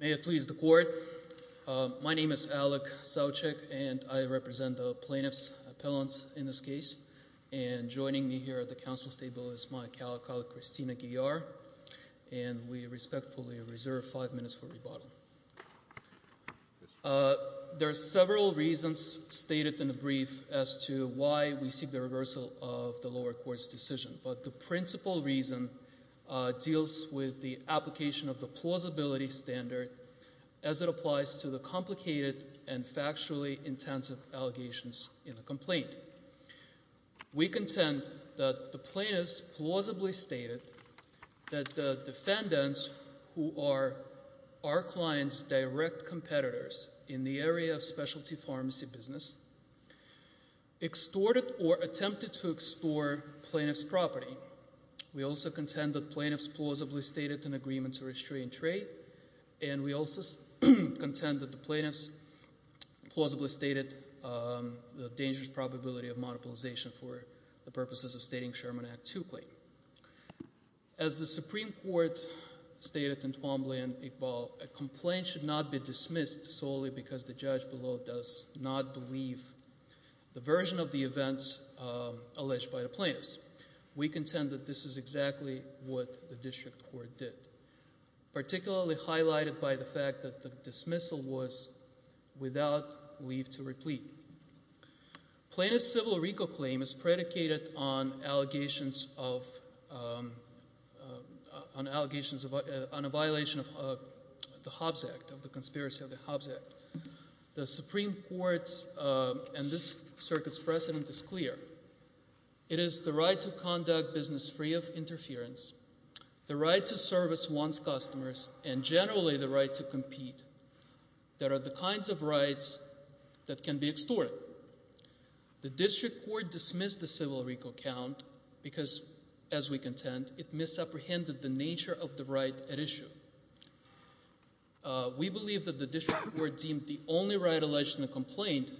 May it please the court, my name is Alec Saucek and I represent the plaintiff's appellants in this case and joining me here at the counsel's table is my colleague Christina Guillard and we respectfully reserve five minutes for rebuttal. There are several reasons stated in the brief as to why we seek the reversal of the lower court's decision, but the principal reason deals with the application of the plausibility standard as it applies to the complicated and factually intensive allegations in a complaint. Firstly, we contend that the plaintiff's plausibly stated that the defendants who are our client's direct competitors in the area of specialty pharmacy business extorted or attempted to extort plaintiff's property. We also contend that plaintiff's plausibly stated an agreement to restrain trade and we also contend that the plaintiff's plausibly stated the dangerous probability of monopolization for the purposes of stating Sherman Act 2 claim. As the Supreme Court stated in Twombly and Iqbal, a complaint should not be dismissed solely because the judge below does not believe the version of the events alleged by the plaintiffs. We contend that this is exactly what the district court did. Particularly highlighted by the fact that the dismissal was without leave to replete. Plaintiff's civil recall claim is predicated on allegations of, on allegations of, on a violation of the Hobbs Act, of the conspiracy of the Hobbs Act. The Supreme Court's and this circuit's precedent is clear. It is the right to conduct business free of interference. The right to service one's customers and generally the right to compete that are the kinds of rights that can be extorted. The district court dismissed the civil recall count because, as we contend, it misapprehended the nature of the right at issue. We believe that the district court deemed the only right alleged in the complaint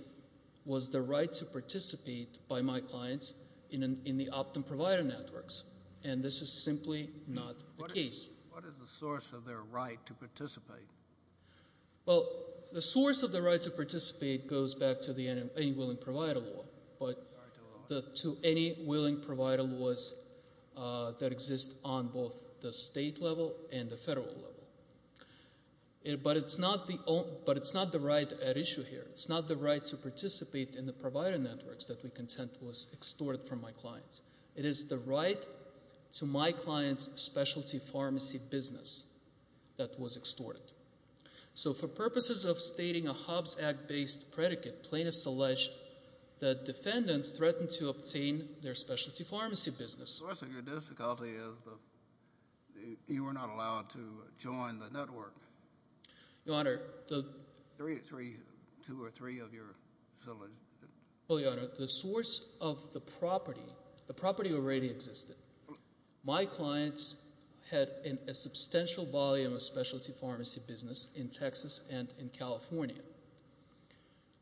was the right to participate by my clients in the opt-in provider networks. And this is simply not the case. What is the source of their right to participate? Well, the source of the right to participate goes back to the any willing provider law. But to any willing provider laws that exist on both the state level and the federal level. But it's not the right at issue here. It's not the right to participate in the provider networks that we contend was extorted from my clients. It is the right to my client's specialty pharmacy business that was extorted. So for purposes of stating a Hobbs Act-based predicate, plaintiffs allege that defendants threatened to obtain their specialty pharmacy business. The source of your difficulty is that you were not allowed to join the network. Your Honor, the- Three, two or three of your- Well, Your Honor, the source of the property, the property already existed. My clients had a substantial volume of specialty pharmacy business in Texas and in California.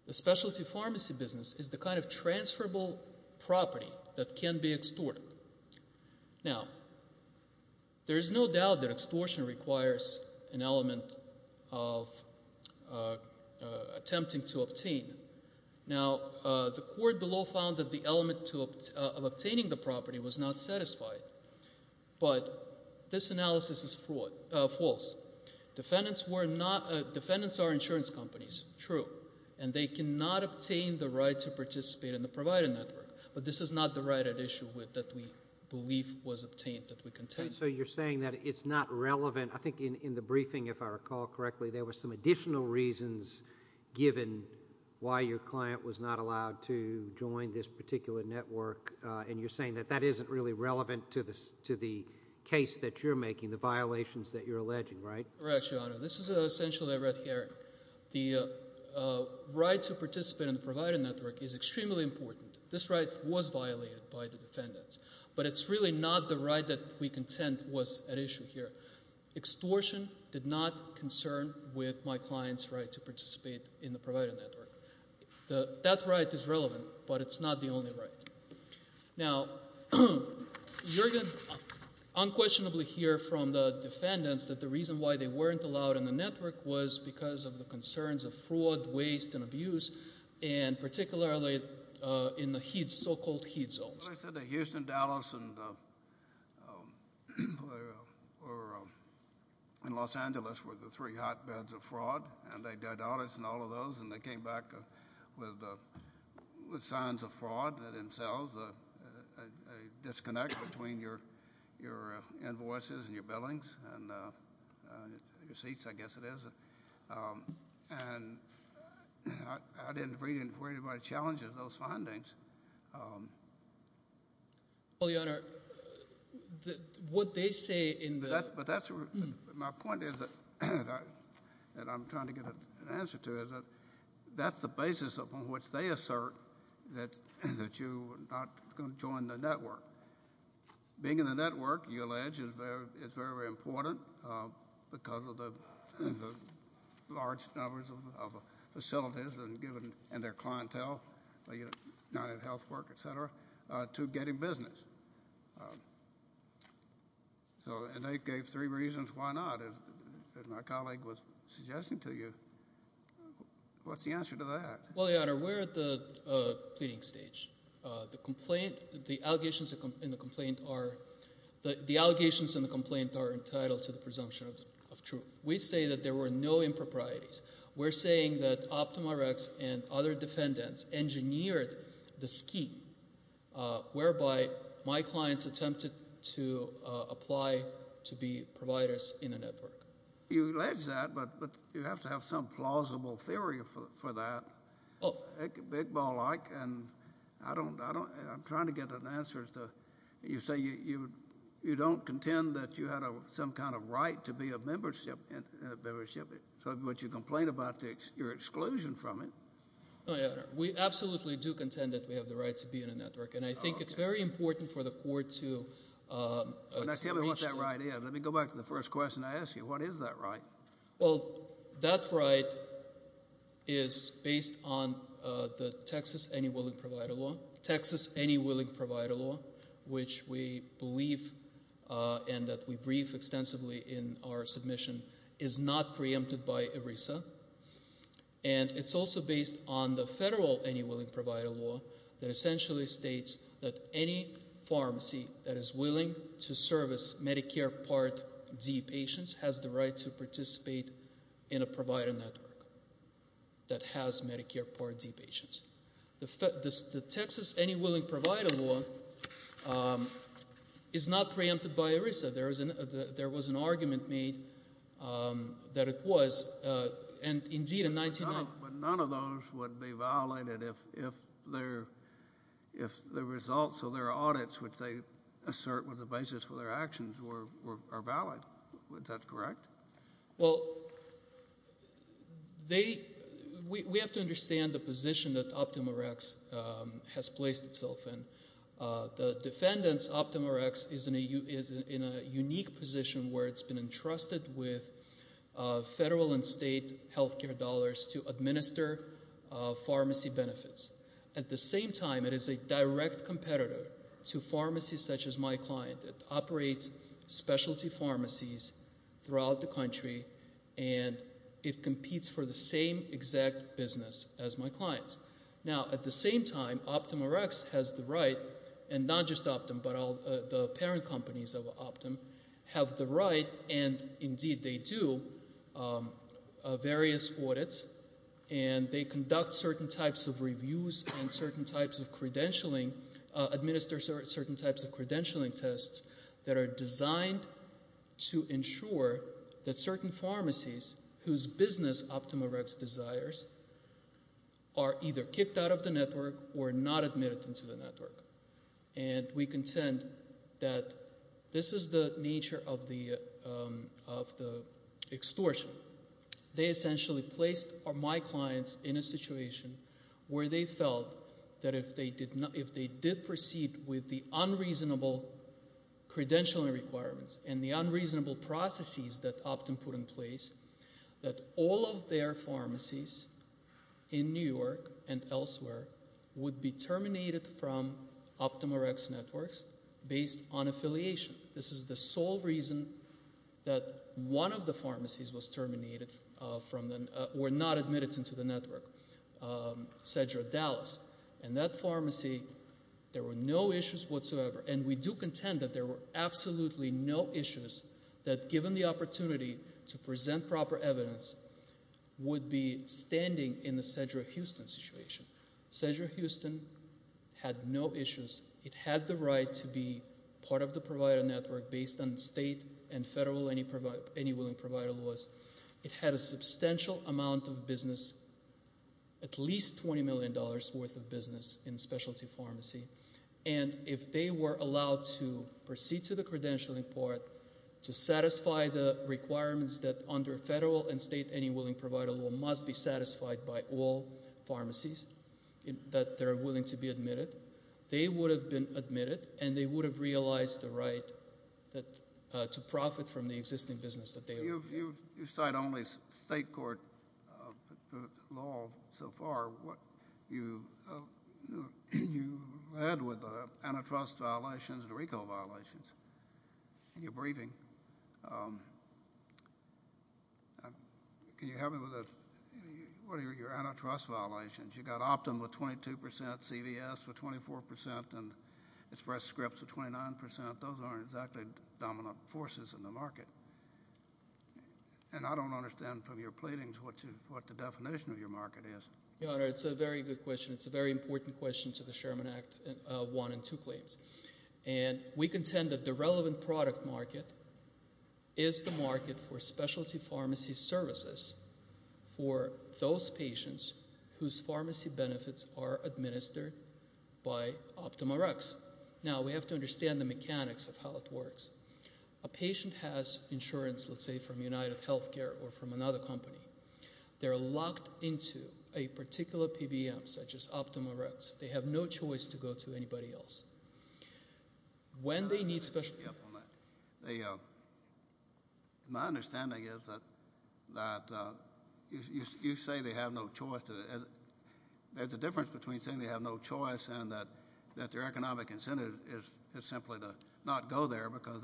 The specialty pharmacy business is the kind of transferable property that can be extorted. Now, there's no doubt that extortion requires an element of attempting to obtain. Now, the court below found that the element of obtaining the property was not satisfied, but this analysis is false. Defendants are insurance companies, true. And they cannot obtain the right to participate in the provider network. But this is not the right at issue that we believe was obtained, that we contend. So you're saying that it's not relevant. I think in the briefing, if I recall correctly, there were some additional reasons given why your client was not allowed to join this particular network. And you're saying that that isn't really relevant to the case that you're making, the violations that you're alleging, right? Correct, Your Honor. This is essentially a red herring. The right to participate in the provider network is extremely important. This right was violated by the defendants. But it's really not the right that we contend was at issue here. Extortion did not concern with my client's right to participate in the provider network. That right is relevant, but it's not the only right. Now, you're going to unquestionably hear from the defendants that the reason why they weren't allowed in the network was because of the concerns of fraud, waste, and abuse, and particularly in the so-called heat zones. As I said, the Houston, Dallas, and Los Angeles were the three hotbeds of fraud. And they did all this and all of those, and they came back with signs of fraud themselves, a disconnect between your invoices and your billings, and your seats, I guess it is. And I didn't read anybody's challenges, those findings. Well, your honor, what they say in the- But that's, my point is that, that I'm trying to get an answer to is that, that's the basis upon which they assert that you are not going to join the network. Being in the network, you allege, is very, very important because of the large numbers of facilities and given, and their clientele, not in health work, et cetera, to get in business. So, and they gave three reasons why not, as my colleague was suggesting to you. What's the answer to that? Well, your honor, we're at the pleading stage. The complaint, the allegations in the complaint are, the allegations in the complaint are entitled to the presumption of truth. We say that there were no improprieties. We're saying that OptumRx and other defendants engineered the scheme whereby my clients attempted to apply to be providers in a network. You allege that, but you have to have some plausible theory for that, big ball like. And I don't, I don't, I'm trying to get an answer to, you say you, you don't contend that you had some kind of right to be a membership, and, and a membership, but you complain about your exclusion from it. No, your honor, we absolutely do contend that we have the right to be in a network. And I think it's very important for the court to, to reach. Now tell me what that right is. Let me go back to the first question I asked you. What is that right? Well, that right is based on the Texas Any Willing Provider Law. Texas Any Willing Provider Law, which we believe and that we brief extensively in our submission, is not preempted by ERISA. And it's also based on the federal Any Willing Provider Law that essentially states that any pharmacy that is willing to service Medicare Part D patients has the right to participate in a provider network that has Medicare Part D patients. The, the Texas Any Willing Provider Law is not preempted by ERISA. There is an, there was an argument made that it was. And indeed in 1990. But none of those would be violated if, if their, if the results of their audits, which they assert was the basis for their actions, were, were, are valid. Is that correct? Well, they, we, we have to understand the position that OptumRx has placed itself in. The defendants OptumRx is in a, is in a unique position where it's been entrusted with federal and state healthcare dollars to administer pharmacy benefits. At the same time, it is a direct competitor to pharmacies such as my client. It operates specialty pharmacies throughout the country and it competes for the same exact business as my client's. Now at the same time, OptumRx has the right, and not just Optum, but all the parent companies of Optum, have the right, and indeed they do, various audits. And they conduct certain types of reviews and certain types of credentialing, administer certain types of credentialing tests that are designed to ensure that certain pharmacies whose business OptumRx desires are either kicked out of the network or not admitted into the network. And we contend that this is the nature of the extortion. They essentially placed my clients in a situation where they felt that if they did not, if they did proceed with the unreasonable credentialing requirements and the unreasonable processes that Optum put in place, that all of their pharmacies in New York and elsewhere would be terminated from OptumRx networks based on affiliation. This is the sole reason that one of the pharmacies was terminated from the, were not admitted into the network, Cedra Dallas. And that pharmacy, there were no issues whatsoever. And we do contend that there were absolutely no issues that, given the opportunity to present proper evidence, would be standing in the Cedra Houston situation. Cedra Houston had no issues. It had the right to be part of the provider network based on state and federal any willing provider laws. It had a substantial amount of business, at least $20 million worth of business in specialty pharmacy. And if they were allowed to proceed to the credentialing part to satisfy the requirements that under federal and state any willing provider law must be satisfied by all pharmacies that they're willing to be admitted. They would have been admitted and they would have realized the right to profit from the existing business that they- You cite only state court law so far. What you had with the antitrust violations, the RICO violations, in your briefing. Can you help me with the, what are your antitrust violations? You got Optum with 22%, CVS with 24%, and Express Scripts with 29%. Those aren't exactly dominant forces in the market. And I don't understand from your platings what the definition of your market is. Your Honor, it's a very good question. It's a very important question to the Sherman Act, one and two claims. And we contend that the relevant product market is the market for specialty pharmacy services for those patients whose pharmacy benefits are administered by Optum Rx. Now, we have to understand the mechanics of how it works. A patient has insurance, let's say, from United Healthcare or from another company. They're locked into a particular PBM, such as Optum Rx. They have no choice to go to anybody else. When they need specialty- Yeah, well, my understanding is that you say they have no choice. There's a difference between saying they have no choice and that their economic incentive is simply to not go there because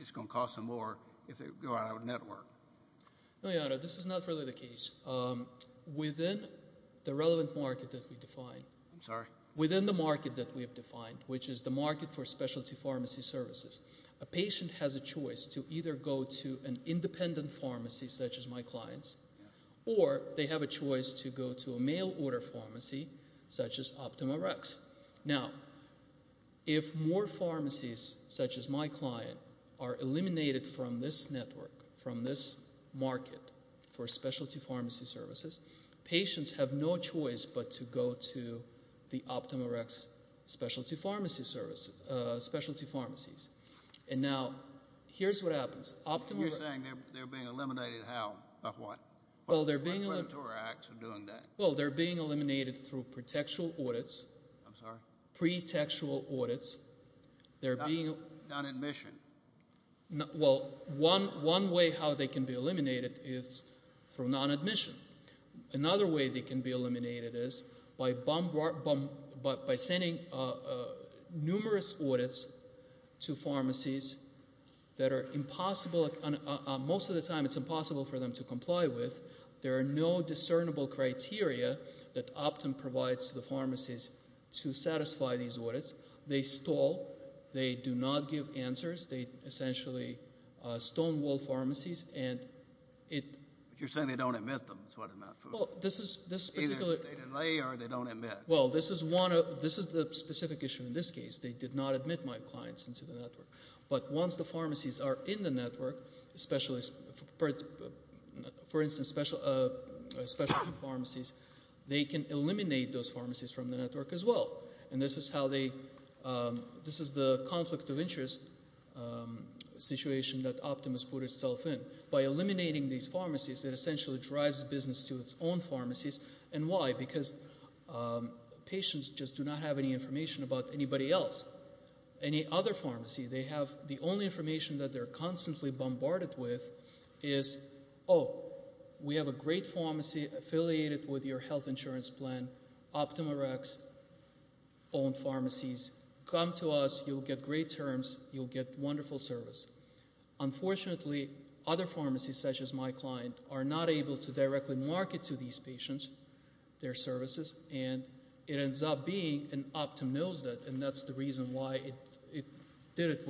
it's going to cost them more if they go out of network. No, Your Honor, this is not really the case. Within the relevant market that we define- I'm sorry? Within the market that we have defined, which is the market for specialty pharmacy services, a patient has a choice to either go to an independent pharmacy, such as my client's, or they have a choice to go to a mail-order pharmacy, such as Optum Rx. Now, if more pharmacies, such as my client, are eliminated from this network, from this market for specialty pharmacy services, patients have no choice but to go to the Optum Rx specialty pharmacy services, specialty pharmacies. And now, here's what happens. Optum Rx- Well, they're being- Optum Rx are doing that. Well, they're being eliminated through pre-textual audits. I'm sorry? Pre-textual audits. They're being- Non-admission. Well, one way how they can be eliminated is through non-admission. Another way they can be eliminated is by sending numerous audits to pharmacies that are impossible, most of the time it's impossible for them to comply with. There are no discernible criteria that Optum provides to the pharmacies to satisfy these audits. They stall. They do not give answers. They essentially stonewall pharmacies, and it- But you're saying they don't admit them is what I'm asking. Well, this is- Either they delay or they don't admit. Well, this is one of, this is the specific issue in this case. They did not admit my clients into the network. But once the pharmacies are in the network, specialist, for instance, specialty pharmacies, they can eliminate those pharmacies from the network as well. And this is how they, this is the conflict of interest situation that Optum has put itself in. By eliminating these pharmacies, it essentially drives business to its own pharmacies. And why? Because patients just do not have any information about anybody else. Any other pharmacy, they have the only information that they're constantly bombarded with is, oh, we have a great pharmacy affiliated with your health insurance plan. OptumRx-owned pharmacies, come to us, you'll get great terms, you'll get wonderful service. Unfortunately, other pharmacies, such as my client, are not able to directly market to these patients, their services, and it ends up being an Optum knows that, and that's the reason why it did it.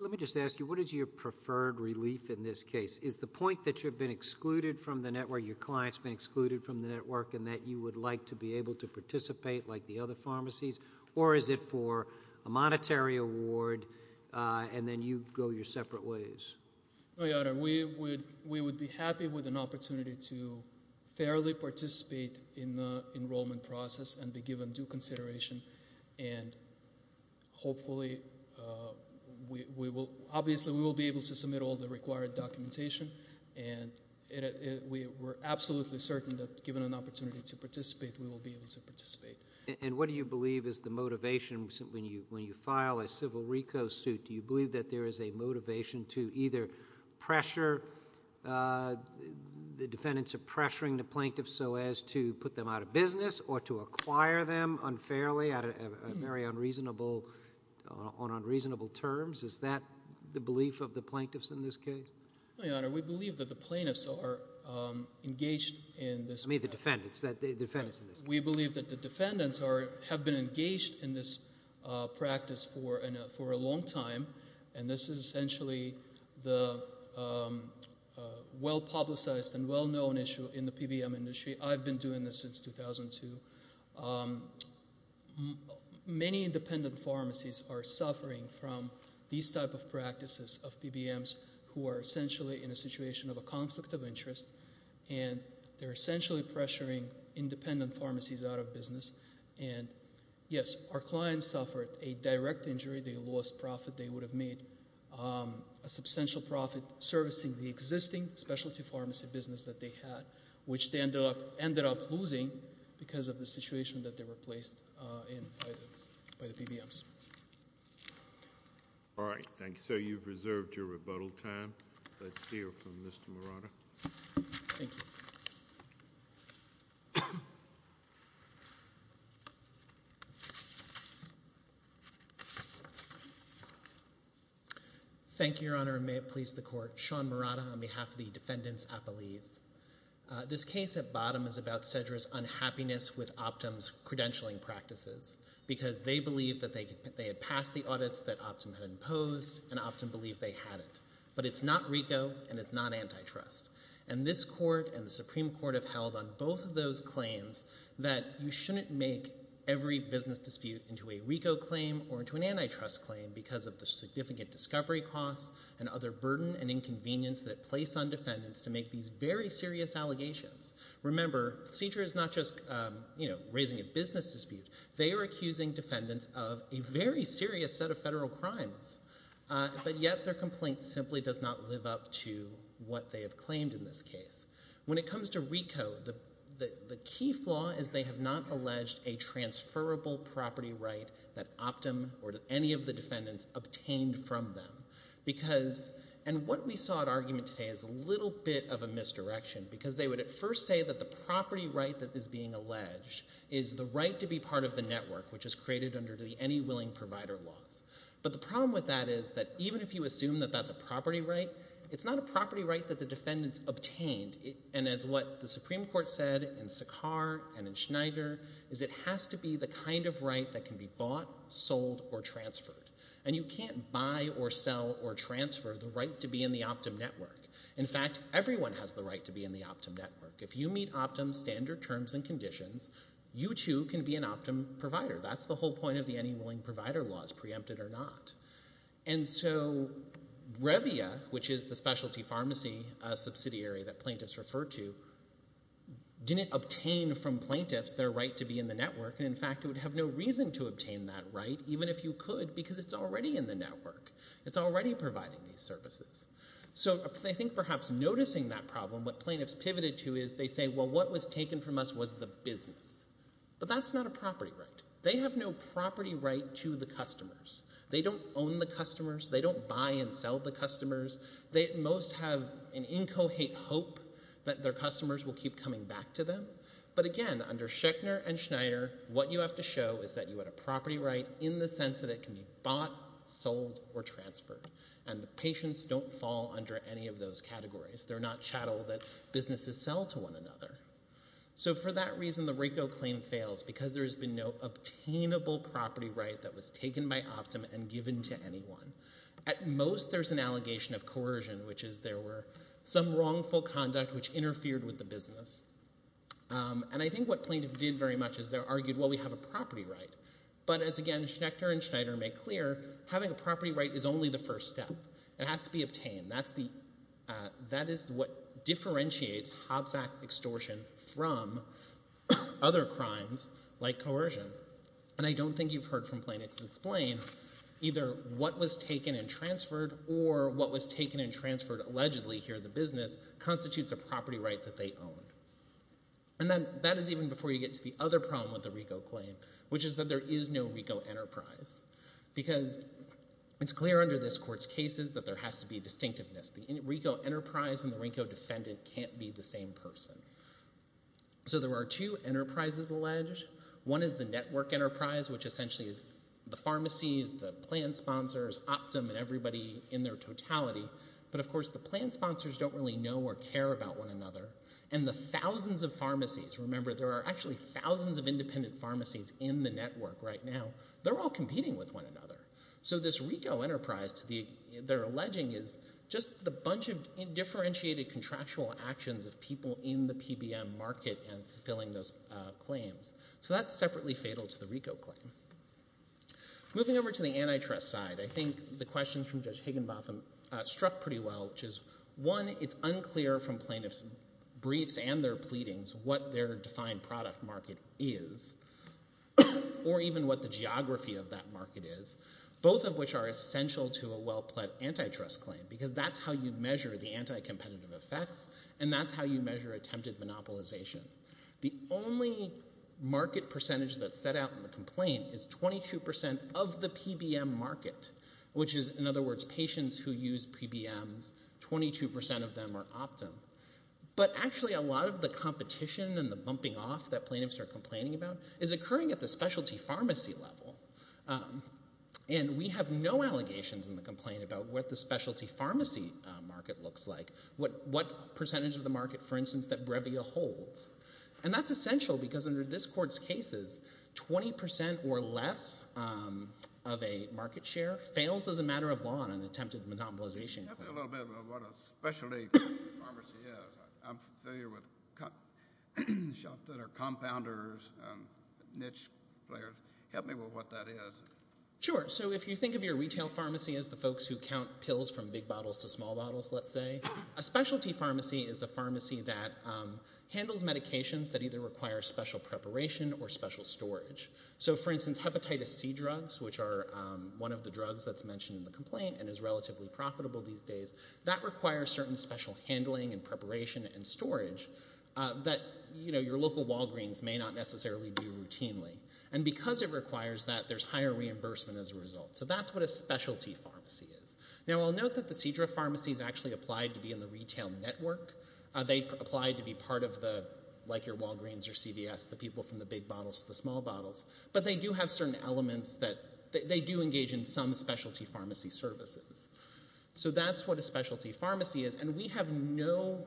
Let me just ask you, what is your preferred relief in this case? Is the point that you've been excluded from the network, your client's been excluded from the network, and that you would like to be able to participate like the other pharmacies? Or is it for a monetary award, and then you go your separate ways? We would be happy with an opportunity to fairly participate in the enrollment process and be given due consideration. And hopefully, obviously we will be able to submit all the required documentation. And we're absolutely certain that given an opportunity to participate, we will be able to participate. And what do you believe is the motivation when you file a civil RICO suit? Do you believe that there is a motivation to either pressure, the defendants are pressuring the plaintiffs so as to put them out of business or to acquire them unfairly on very unreasonable terms? Is that the belief of the plaintiffs in this case? We believe that the plaintiffs are engaged in this- You mean the defendants, the defendants in this case. We believe that the defendants have been engaged in this practice for a long time. And this is essentially the well-publicized and well-known issue in the PBM industry. I've been doing this since 2002. Many independent pharmacies are suffering from these type of practices of PBMs who are essentially in a situation of a conflict of interest. And they're essentially pressuring independent pharmacies out of business. And yes, our clients suffered a direct injury. They lost profit. They would have made a substantial profit servicing the existing specialty pharmacy business that they had, which they ended up losing because of the situation that they were placed in by the PBMs. All right, thank you. So you've reserved your rebuttal time. Let's hear from Mr. Murata. Thank you. Thank you, Your Honor, and may it please the court. Sean Murata on behalf of the defendants' appellees. This case at bottom is about Cedra's unhappiness with Optum's credentialing practices. Because they believed that they had passed the audits that Optum had imposed, and Optum believed they had it. But it's not RICO, and it's not antitrust. And this court and the Supreme Court have held on both of those claims that you shouldn't make every business dispute into a RICO claim or into an antitrust claim because of the significant discovery costs and other burden and inconvenience that it placed on defendants to make these very serious allegations. Remember, Cedra is not just raising a business dispute. They are accusing defendants of a very serious set of federal crimes. But yet their complaint simply does not live up to what they have claimed in this case. When it comes to RICO, the key flaw is they have not alleged a transferable property right that Optum or any of the defendants obtained from them. Because, and what we saw at argument today is a little bit of a misdirection. Because they would at first say that the property right that is being alleged is the right to be part of the network, which is created under the Any Willing Provider laws. But the problem with that is that even if you assume that that's a property right, it's not a property right that the defendants obtained. And as what the Supreme Court said in Sakhar and in Schneider, is it has to be the kind of right that can be bought, sold, or transferred. And you can't buy or sell or transfer the right to be in the Optum network. In fact, everyone has the right to be in the Optum network. If you meet Optum's standard terms and conditions, you too can be an Optum provider. That's the whole point of the Any Willing Provider laws, preempted or not. And so, Revia, which is the specialty pharmacy subsidiary that plaintiffs refer to, didn't obtain from plaintiffs their right to be in the network. And in fact, it would have no reason to obtain that right, even if you could, because it's already in the network. It's already providing these services. So, I think perhaps noticing that problem, what plaintiffs pivoted to is they say, well, what was taken from us was the business. But that's not a property right. They have no property right to the customers. They don't own the customers. They don't buy and sell the customers. They at most have an incoherent hope that their customers will keep coming back to them. But again, under Schechner and Schneider, what you have to show is that you had a property right in the sense that it can be bought, sold, or transferred. And the patients don't fall under any of those categories. They're not chattel that businesses sell to one another. So, for that reason, the RICO claim fails, because there has been no obtainable property right that was taken by Optum and given to anyone. At most, there's an allegation of coercion, which is there were some wrongful conduct which interfered with the business. And I think what plaintiffs did very much is they argued, well, we have a property right. But as, again, Schechner and Schneider make clear, having a property right is only the first step. It has to be obtained. That is what differentiates Hobbs Act extortion from other crimes like coercion. And I don't think you've heard from plaintiffs explain either what was taken and transferred or what was taken and transferred allegedly here in the business constitutes a property right that they own. And that is even before you get to the other problem with the RICO claim, which is that there is no RICO enterprise. Because it's clear under this court's cases that there has to be distinctiveness. The RICO enterprise and the RICO defendant can't be the same person. So, there are two enterprises alleged. One is the network enterprise, which essentially is the pharmacies, the plan sponsors, Optum and everybody in their totality. But, of course, the plan sponsors don't really know or care about one another. And the thousands of pharmacies, remember, there are actually thousands of independent pharmacies in the network right now. They're all competing with one another. So, this RICO enterprise they're alleging is just a bunch of differentiated contractual actions of people in the PBM market and filling those claims. So, that's separately fatal to the RICO claim. Moving over to the antitrust side, I think the questions from Judge Higginbotham struck pretty well, which is, one, it's unclear from plaintiff's briefs and their pleadings what their defined product market is or even what the geography of that market is, both of which are essential to a well-pled antitrust claim because that's how you measure the anti-competitive effects and that's how you measure attempted monopolization. The only market percentage that's set out in the complaint is 22% of the PBM market, which is, in other words, patients who use PBMs, 22% of them are Optum. But actually, a lot of the competition and the bumping off that plaintiffs are complaining about is occurring at the specialty pharmacy level. And we have no allegations in the complaint about what the specialty pharmacy market looks like, what percentage of the market, for instance, that Brevia holds. And that's essential because under this court's cases, 20% or less of a market share fails as a matter of law in an attempted monopolization. Can you tell me a little bit about what a specialty pharmacy is? I'm familiar with shops that are compounders, niche players. Help me with what that is. Sure. So if you think of your retail pharmacy as the folks who count pills from big bottles to small bottles, let's say, a specialty pharmacy is a pharmacy that handles medications that either require special preparation or special storage. So for instance, hepatitis C drugs, which are one of the drugs that's mentioned in the complaint and is relatively profitable these days, that requires certain special handling and preparation and storage that, you know, your local Walgreens may not necessarily do routinely. And because it requires that, there's higher reimbursement as a result. So that's what a specialty pharmacy is. Now, I'll note that the Cedra Pharmacy is actually applied to be in the retail network. They apply to be part of the, like your Walgreens or CVS, the people from the big bottles to the small bottles. But they do have certain elements that, they do engage in some specialty pharmacy services. So that's what a specialty pharmacy is. And we have no,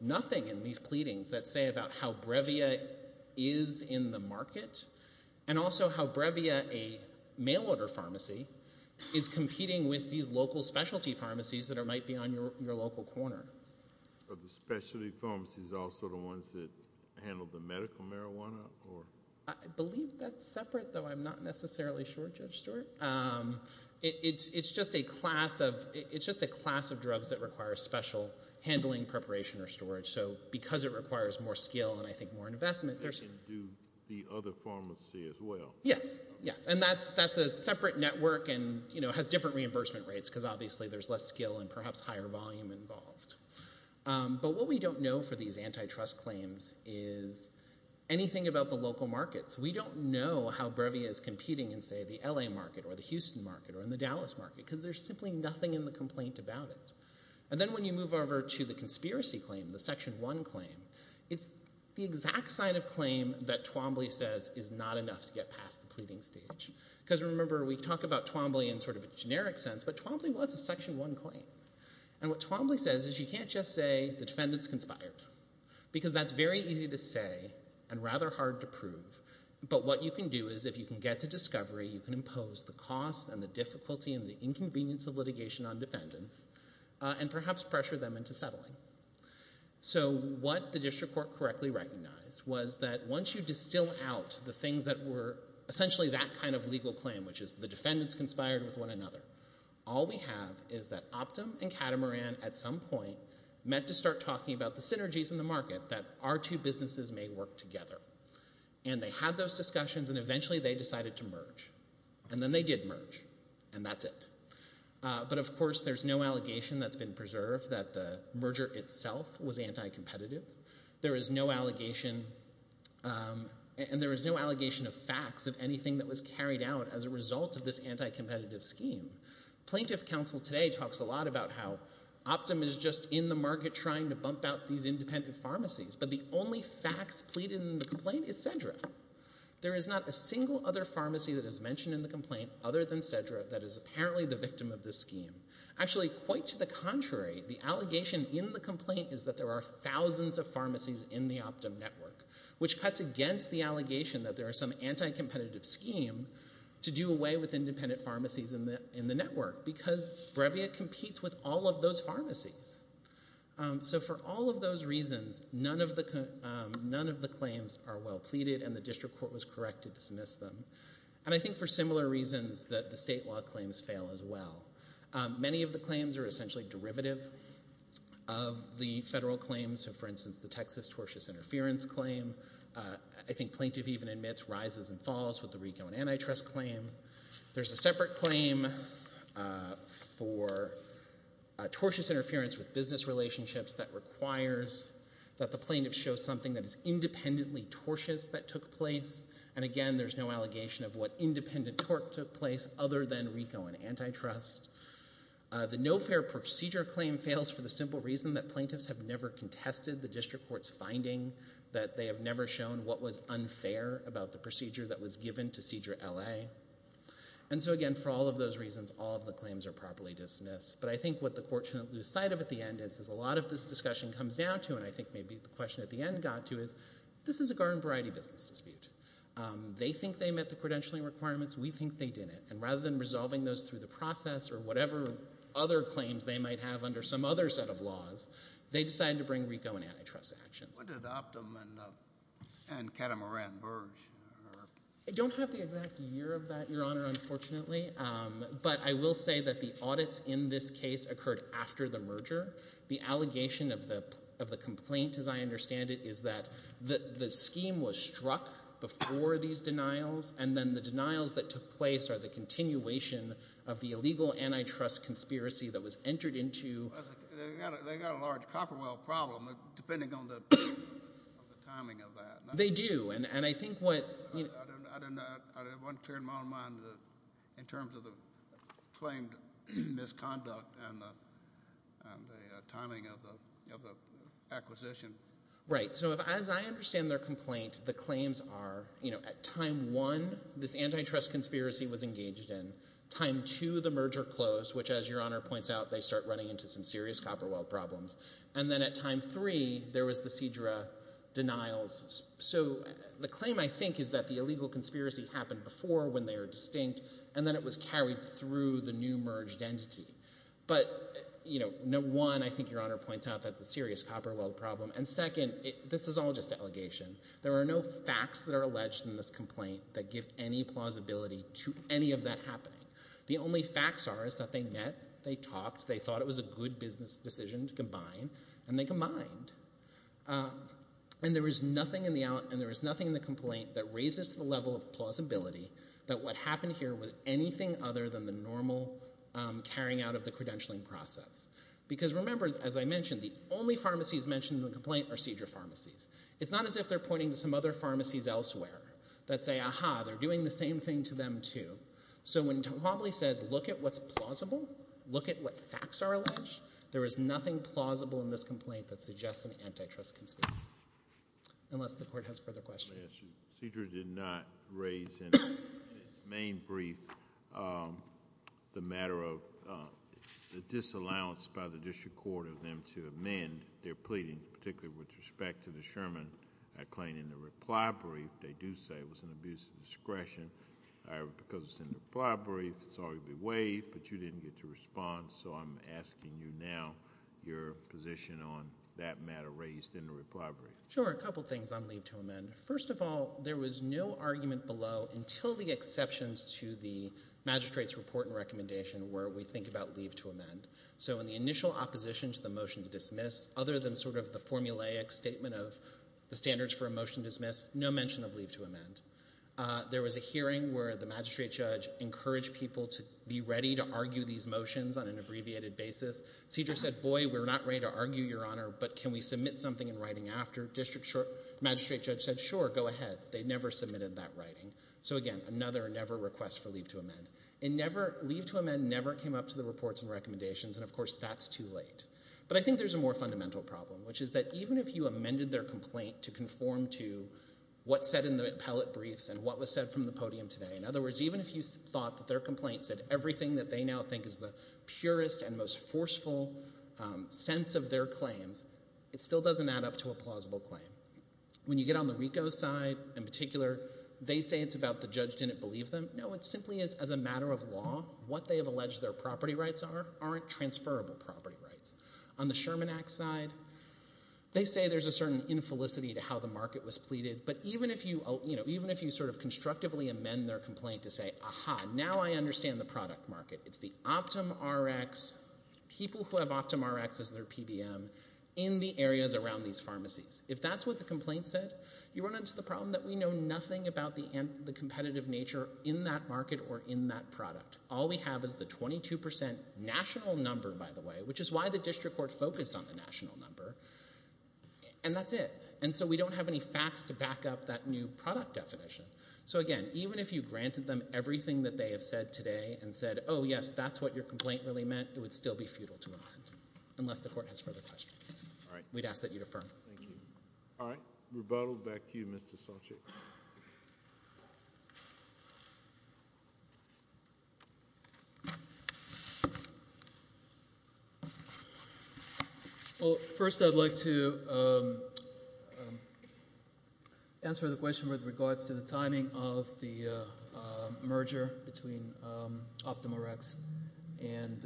nothing in these pleadings that say about how Brevia is in the market and also how Brevia, a mail order pharmacy, is competing with these local specialty pharmacies that might be on your local corner. Are the specialty pharmacies also the ones that handle the medical marijuana or? I believe that's separate though. I'm not necessarily sure, Judge Stewart. It's just a class of, it's just a class of drugs that requires special handling, preparation or storage. So because it requires more skill and I think more investment, there's. Do the other pharmacy as well. Yes, yes. And that's a separate network and, you know, has different reimbursement rates because obviously there's less skill and perhaps higher volume involved. But what we don't know for these antitrust claims is anything about the local markets. We don't know how Brevia is competing in say the LA market or the Houston market or in the Dallas market because there's simply nothing in the complaint about it. And then when you move over to the conspiracy claim, the Section 1 claim, it's the exact side of claim that Twombly says is not enough to get past the pleading stage. Because remember, we talk about Twombly in sort of a generic sense but Twombly was a Section 1 claim. And what Twombly says is you can't just say the defendant's conspired because that's very easy to say and rather hard to prove. But what you can do is if you can get to discovery, you can impose the cost and the difficulty and the inconvenience of litigation on defendants and perhaps pressure them into settling. So what the district court correctly recognized was that once you distill out the things that were essentially that kind of legal claim which is the defendant's conspired with one another, all we have is that Optum and Catamaran at some point met to start talking about the synergies in the market that our two businesses may work together. And they had those discussions and eventually they decided to merge. And then they did merge and that's it. But of course there's no allegation that's been preserved that the merger itself was anti-competitive. There is no allegation and there is no allegation of facts of anything that was carried out as a result of this anti-competitive scheme. Plaintiff counsel today talks a lot about how Optum is just in the market trying to bump out these independent pharmacies but the only facts pleaded in the complaint is Cedra. There is not a single other pharmacy that is mentioned in the complaint other than Cedra that is apparently the victim of this scheme. Actually quite to the contrary, the allegation in the complaint is that there are thousands of pharmacies in the Optum network which cuts against the allegation that there are some anti-competitive scheme to do away with independent pharmacies in the network because Brevia competes with all of those pharmacies. So for all of those reasons, none of the claims are well pleaded and the district court was correct to dismiss them. And I think for similar reasons that the state law claims fail as well. Many of the claims are essentially derivative of the federal claims. For instance, the Texas tortious interference claim. I think plaintiff even admits rises and falls with the RICO and antitrust claim. There's a separate claim for tortious interference with business relationships that requires that the plaintiff show something that is independently tortious that took place. And again, there's no allegation of what independent tort took place other than RICO and antitrust. The no fair procedure claim fails for the simple reason that plaintiffs have never contested the district court's finding that they have never shown what was unfair about the procedure that was given to Cedra LA. And so again, for all of those reasons, all of the claims are properly dismissed. But I think what the court shouldn't lose sight of at the end is a lot of this discussion comes down to and I think maybe the question at the end got to is this is a garden variety business dispute. They think they met the credentialing requirements. We think they didn't. And rather than resolving those through the process or whatever other claims they might have under some other set of laws, they decided to bring RICO and antitrust actions. What did Optum and Catamaran Burge? I don't have the exact year of that, Your Honor, unfortunately. But I will say that the audits in this case occurred after the merger. The allegation of the complaint, as I understand it, is that the scheme was struck before these denials. And then the denials that took place are the continuation of the illegal antitrust conspiracy that was entered into. They've got a large Copperwell problem depending on the timing of that. They do. And I think what. I don't have one clear model in mind in terms of the claimed misconduct and the timing of the acquisition. Right, so as I understand their complaint, the claims are at time one, this antitrust conspiracy was engaged in, time two, the merger closed, which as Your Honor points out, they start running into some serious Copperwell problems. And then at time three, there was the Cedra denials. So the claim, I think, is that the illegal conspiracy happened before when they were distinct, and then it was carried through the new merged entity. But, you know, one, I think Your Honor points out that's a serious Copperwell problem. And second, this is all just allegation. There are no facts that are alleged in this complaint that give any plausibility to any of that happening. The only facts are is that they met, they talked, they thought it was a good business decision to combine, and they combined. And there was nothing in the complaint that raises the level of plausibility that what happened here was anything other than the normal carrying out of the credentialing process. Because remember, as I mentioned, the only pharmacies mentioned in the complaint are Cedra pharmacies. It's not as if they're pointing to some other pharmacies elsewhere that say, aha, they're doing the same thing to them too. So when Tom Hobley says, look at what's plausible, look at what facts are alleged, there is nothing plausible in this complaint that suggests an antitrust conspiracy. Unless the Court has further questions. Cedra did not raise in its main brief the matter of the disallowance by the District Court of them to amend their pleading, particularly with respect to the Sherman acclaim in the reply brief. They do say it was an abuse of discretion because it's in the reply brief. It's already been waived, but you didn't get to respond. So I'm asking you now your position on that matter raised in the reply brief. Sure. A couple things on leave to amend. First of all, there was no argument below until the exceptions to the magistrate's report and recommendation where we think about leave to amend. So in the initial opposition to the motion to dismiss, other than sort of the formulaic statement of the standards for a motion to dismiss, no mention of leave to amend. There was a hearing where the magistrate judge encouraged people to be ready to argue these motions on an abbreviated basis. Cedra said, boy, we're not ready to argue, Your Honor, but can we submit something in writing after? District magistrate judge said, sure, go ahead. They never submitted that writing. So again, another never request for leave to amend. And never, leave to amend never came up to the reports and recommendations, and of course that's too late. But I think there's a more fundamental problem, which is that even if you amended their complaint to conform to what's said in the appellate briefs and what was said from the podium today, in other words, even if you thought that their complaint said everything that they now think is the purest and most forceful sense of their claims, it still doesn't add up to a plausible claim. When you get on the RICO side in particular, they say it's about the judge didn't believe them. No, it simply is as a matter of law, what they have alleged their property rights are aren't transferable property rights. On the Sherman Act side, they say there's a certain infelicity to how the market was pleaded, but even if you sort of constructively amend their complaint to say, aha, now I understand the product market. It's the OptumRx, people who have OptumRx as their PBM in the areas around these pharmacies. If that's what the complaint said, you run into the problem that we know nothing about the competitive nature in that market or in that product. All we have is the 22% national number, by the way, which is why the district court focused on the national number, and that's it. And so we don't have any facts to back up that new product definition. So again, even if you granted them everything that they have said today and said, oh yes, that's what your complaint really meant, it would still be futile to amend, unless the court has further questions. All right. We'd ask that you defer. Thank you. All right. Rebuttal back to you, Mr. Solchick. Well, first I'd like to answer the question with regards to the timing of the merger between OptumRx and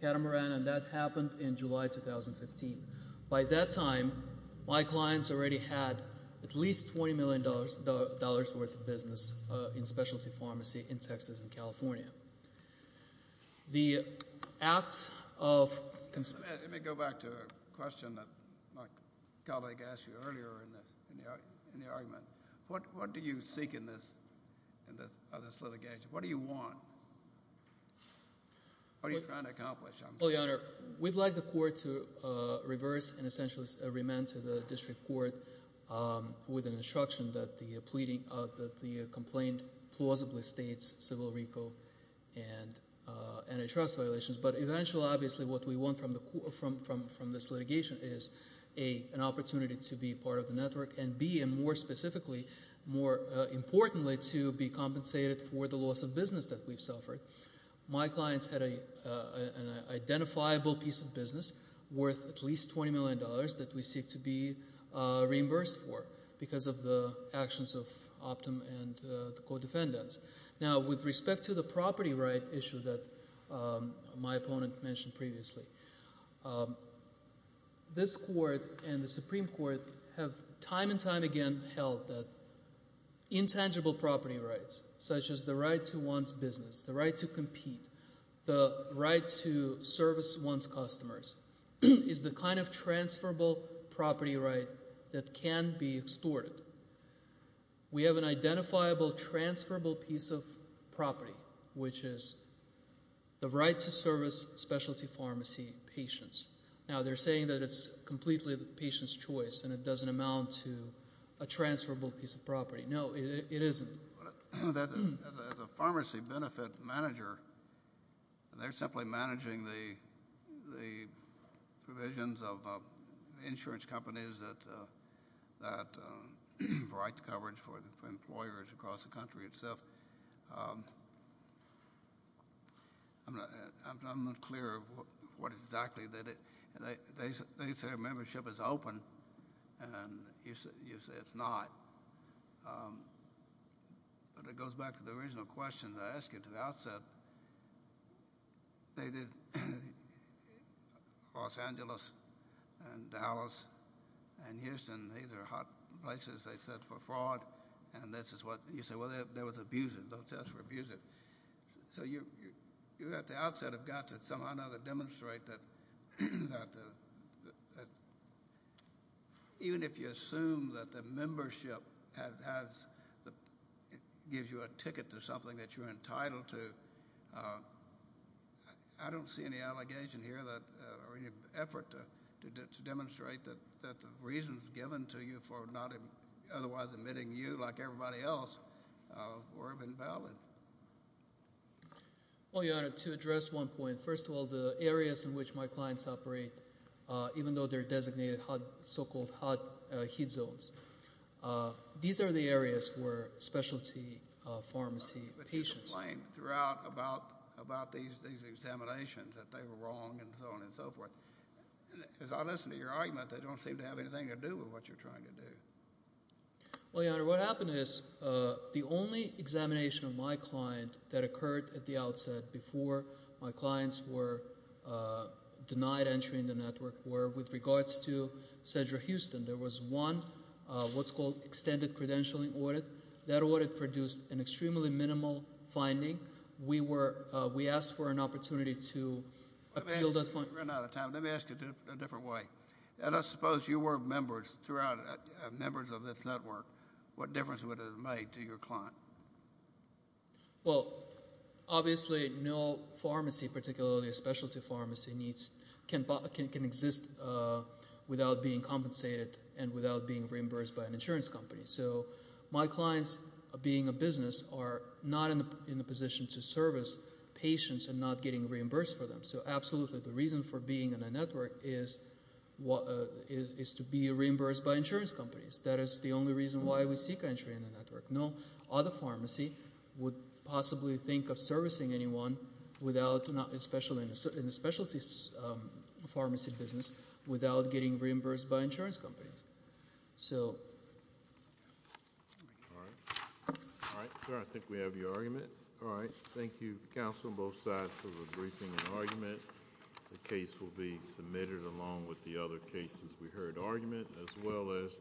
Catamaran, and that happened in July 2015. By that time, my clients already had at least $20 million worth of business in specialty pharmacy in Texas and California. The acts of consent... Let me go back to a question that my colleague asked you earlier in the argument. What do you seek in this litigation? What do you want? What are you trying to accomplish? Well, Your Honor, we'd like the court to reverse and essentially remand to the district court with an instruction that the complaint plausibly states civil RICO and antitrust violations. But eventually, obviously, what we want from this litigation is A, an opportunity to be part of the network, and B, and more specifically, more importantly, to be compensated for the loss of business that we've suffered. My clients had an identifiable piece of business worth at least $20 million that we seek to be reimbursed for because of the actions of Optum and the co-defendants. Now, with respect to the property right issue that my opponent mentioned previously, this court and the Supreme Court have time and time again held that intangible property rights such as the right to one's business, the right to compete, the right to service one's customers is the kind of transferable property right that can be extorted. We have an identifiable transferable piece of property, which is the right to service specialty pharmacy patients. Now, they're saying that it's completely the patient's choice and it doesn't amount to a transferable piece of property. No, it isn't. As a pharmacy benefit manager, they're simply managing the provisions of insurance companies that provide coverage for employers across the country itself. I'm not clear of what exactly that is. They say membership is open, and you say it's not. But it goes back to the original question that I asked you at the outset. They did Los Angeles and Dallas and Houston. These are hot places, they said, for fraud. And this is what you say. Well, that was abusive. Those tests were abusive. So you at the outset have got to somehow or another demonstrate that even if you assume that the membership gives you a ticket to something that you're entitled to, I don't see any allegation here or any effort to demonstrate that the reasons given to you for not otherwise admitting you, like everybody else, were invalid. Well, Your Honor, to address one point. First of all, the areas in which my clients operate, even though they're designated so-called hot heat zones, these are the areas where specialty pharmacy patients. But you complained throughout about these examinations that they were wrong and so on and so forth. As I listen to your argument, they don't seem to have anything to do with what you're trying to do. Well, Your Honor, what happened is the only examination of my client that occurred at the outset before my clients were denied entry in the network were with regards to Cedra Houston. There was one, what's called extended credentialing audit. That audit produced an extremely minimal finding. We were, we asked for an opportunity to appeal that finding. We're running out of time. Let me ask you a different way. And I suppose you were members throughout, members of this network. What difference would it have made to your client? Well, obviously no pharmacy, particularly a specialty pharmacy, can exist without being compensated and without being reimbursed by an insurance company. So my clients, being a business, are not in a position to service patients and not getting reimbursed for them. So absolutely, the reason for being in a network is to be reimbursed by insurance companies. That is the only reason why we seek entry in the network. No other pharmacy would possibly think of servicing anyone without, especially in the specialty pharmacy business, without getting reimbursed by insurance companies. So. All right. All right, sir, I think we have your argument. All right. Thank you, counsel, both sides for the briefing and argument. The case will be submitted along with the other cases we heard argument as well as.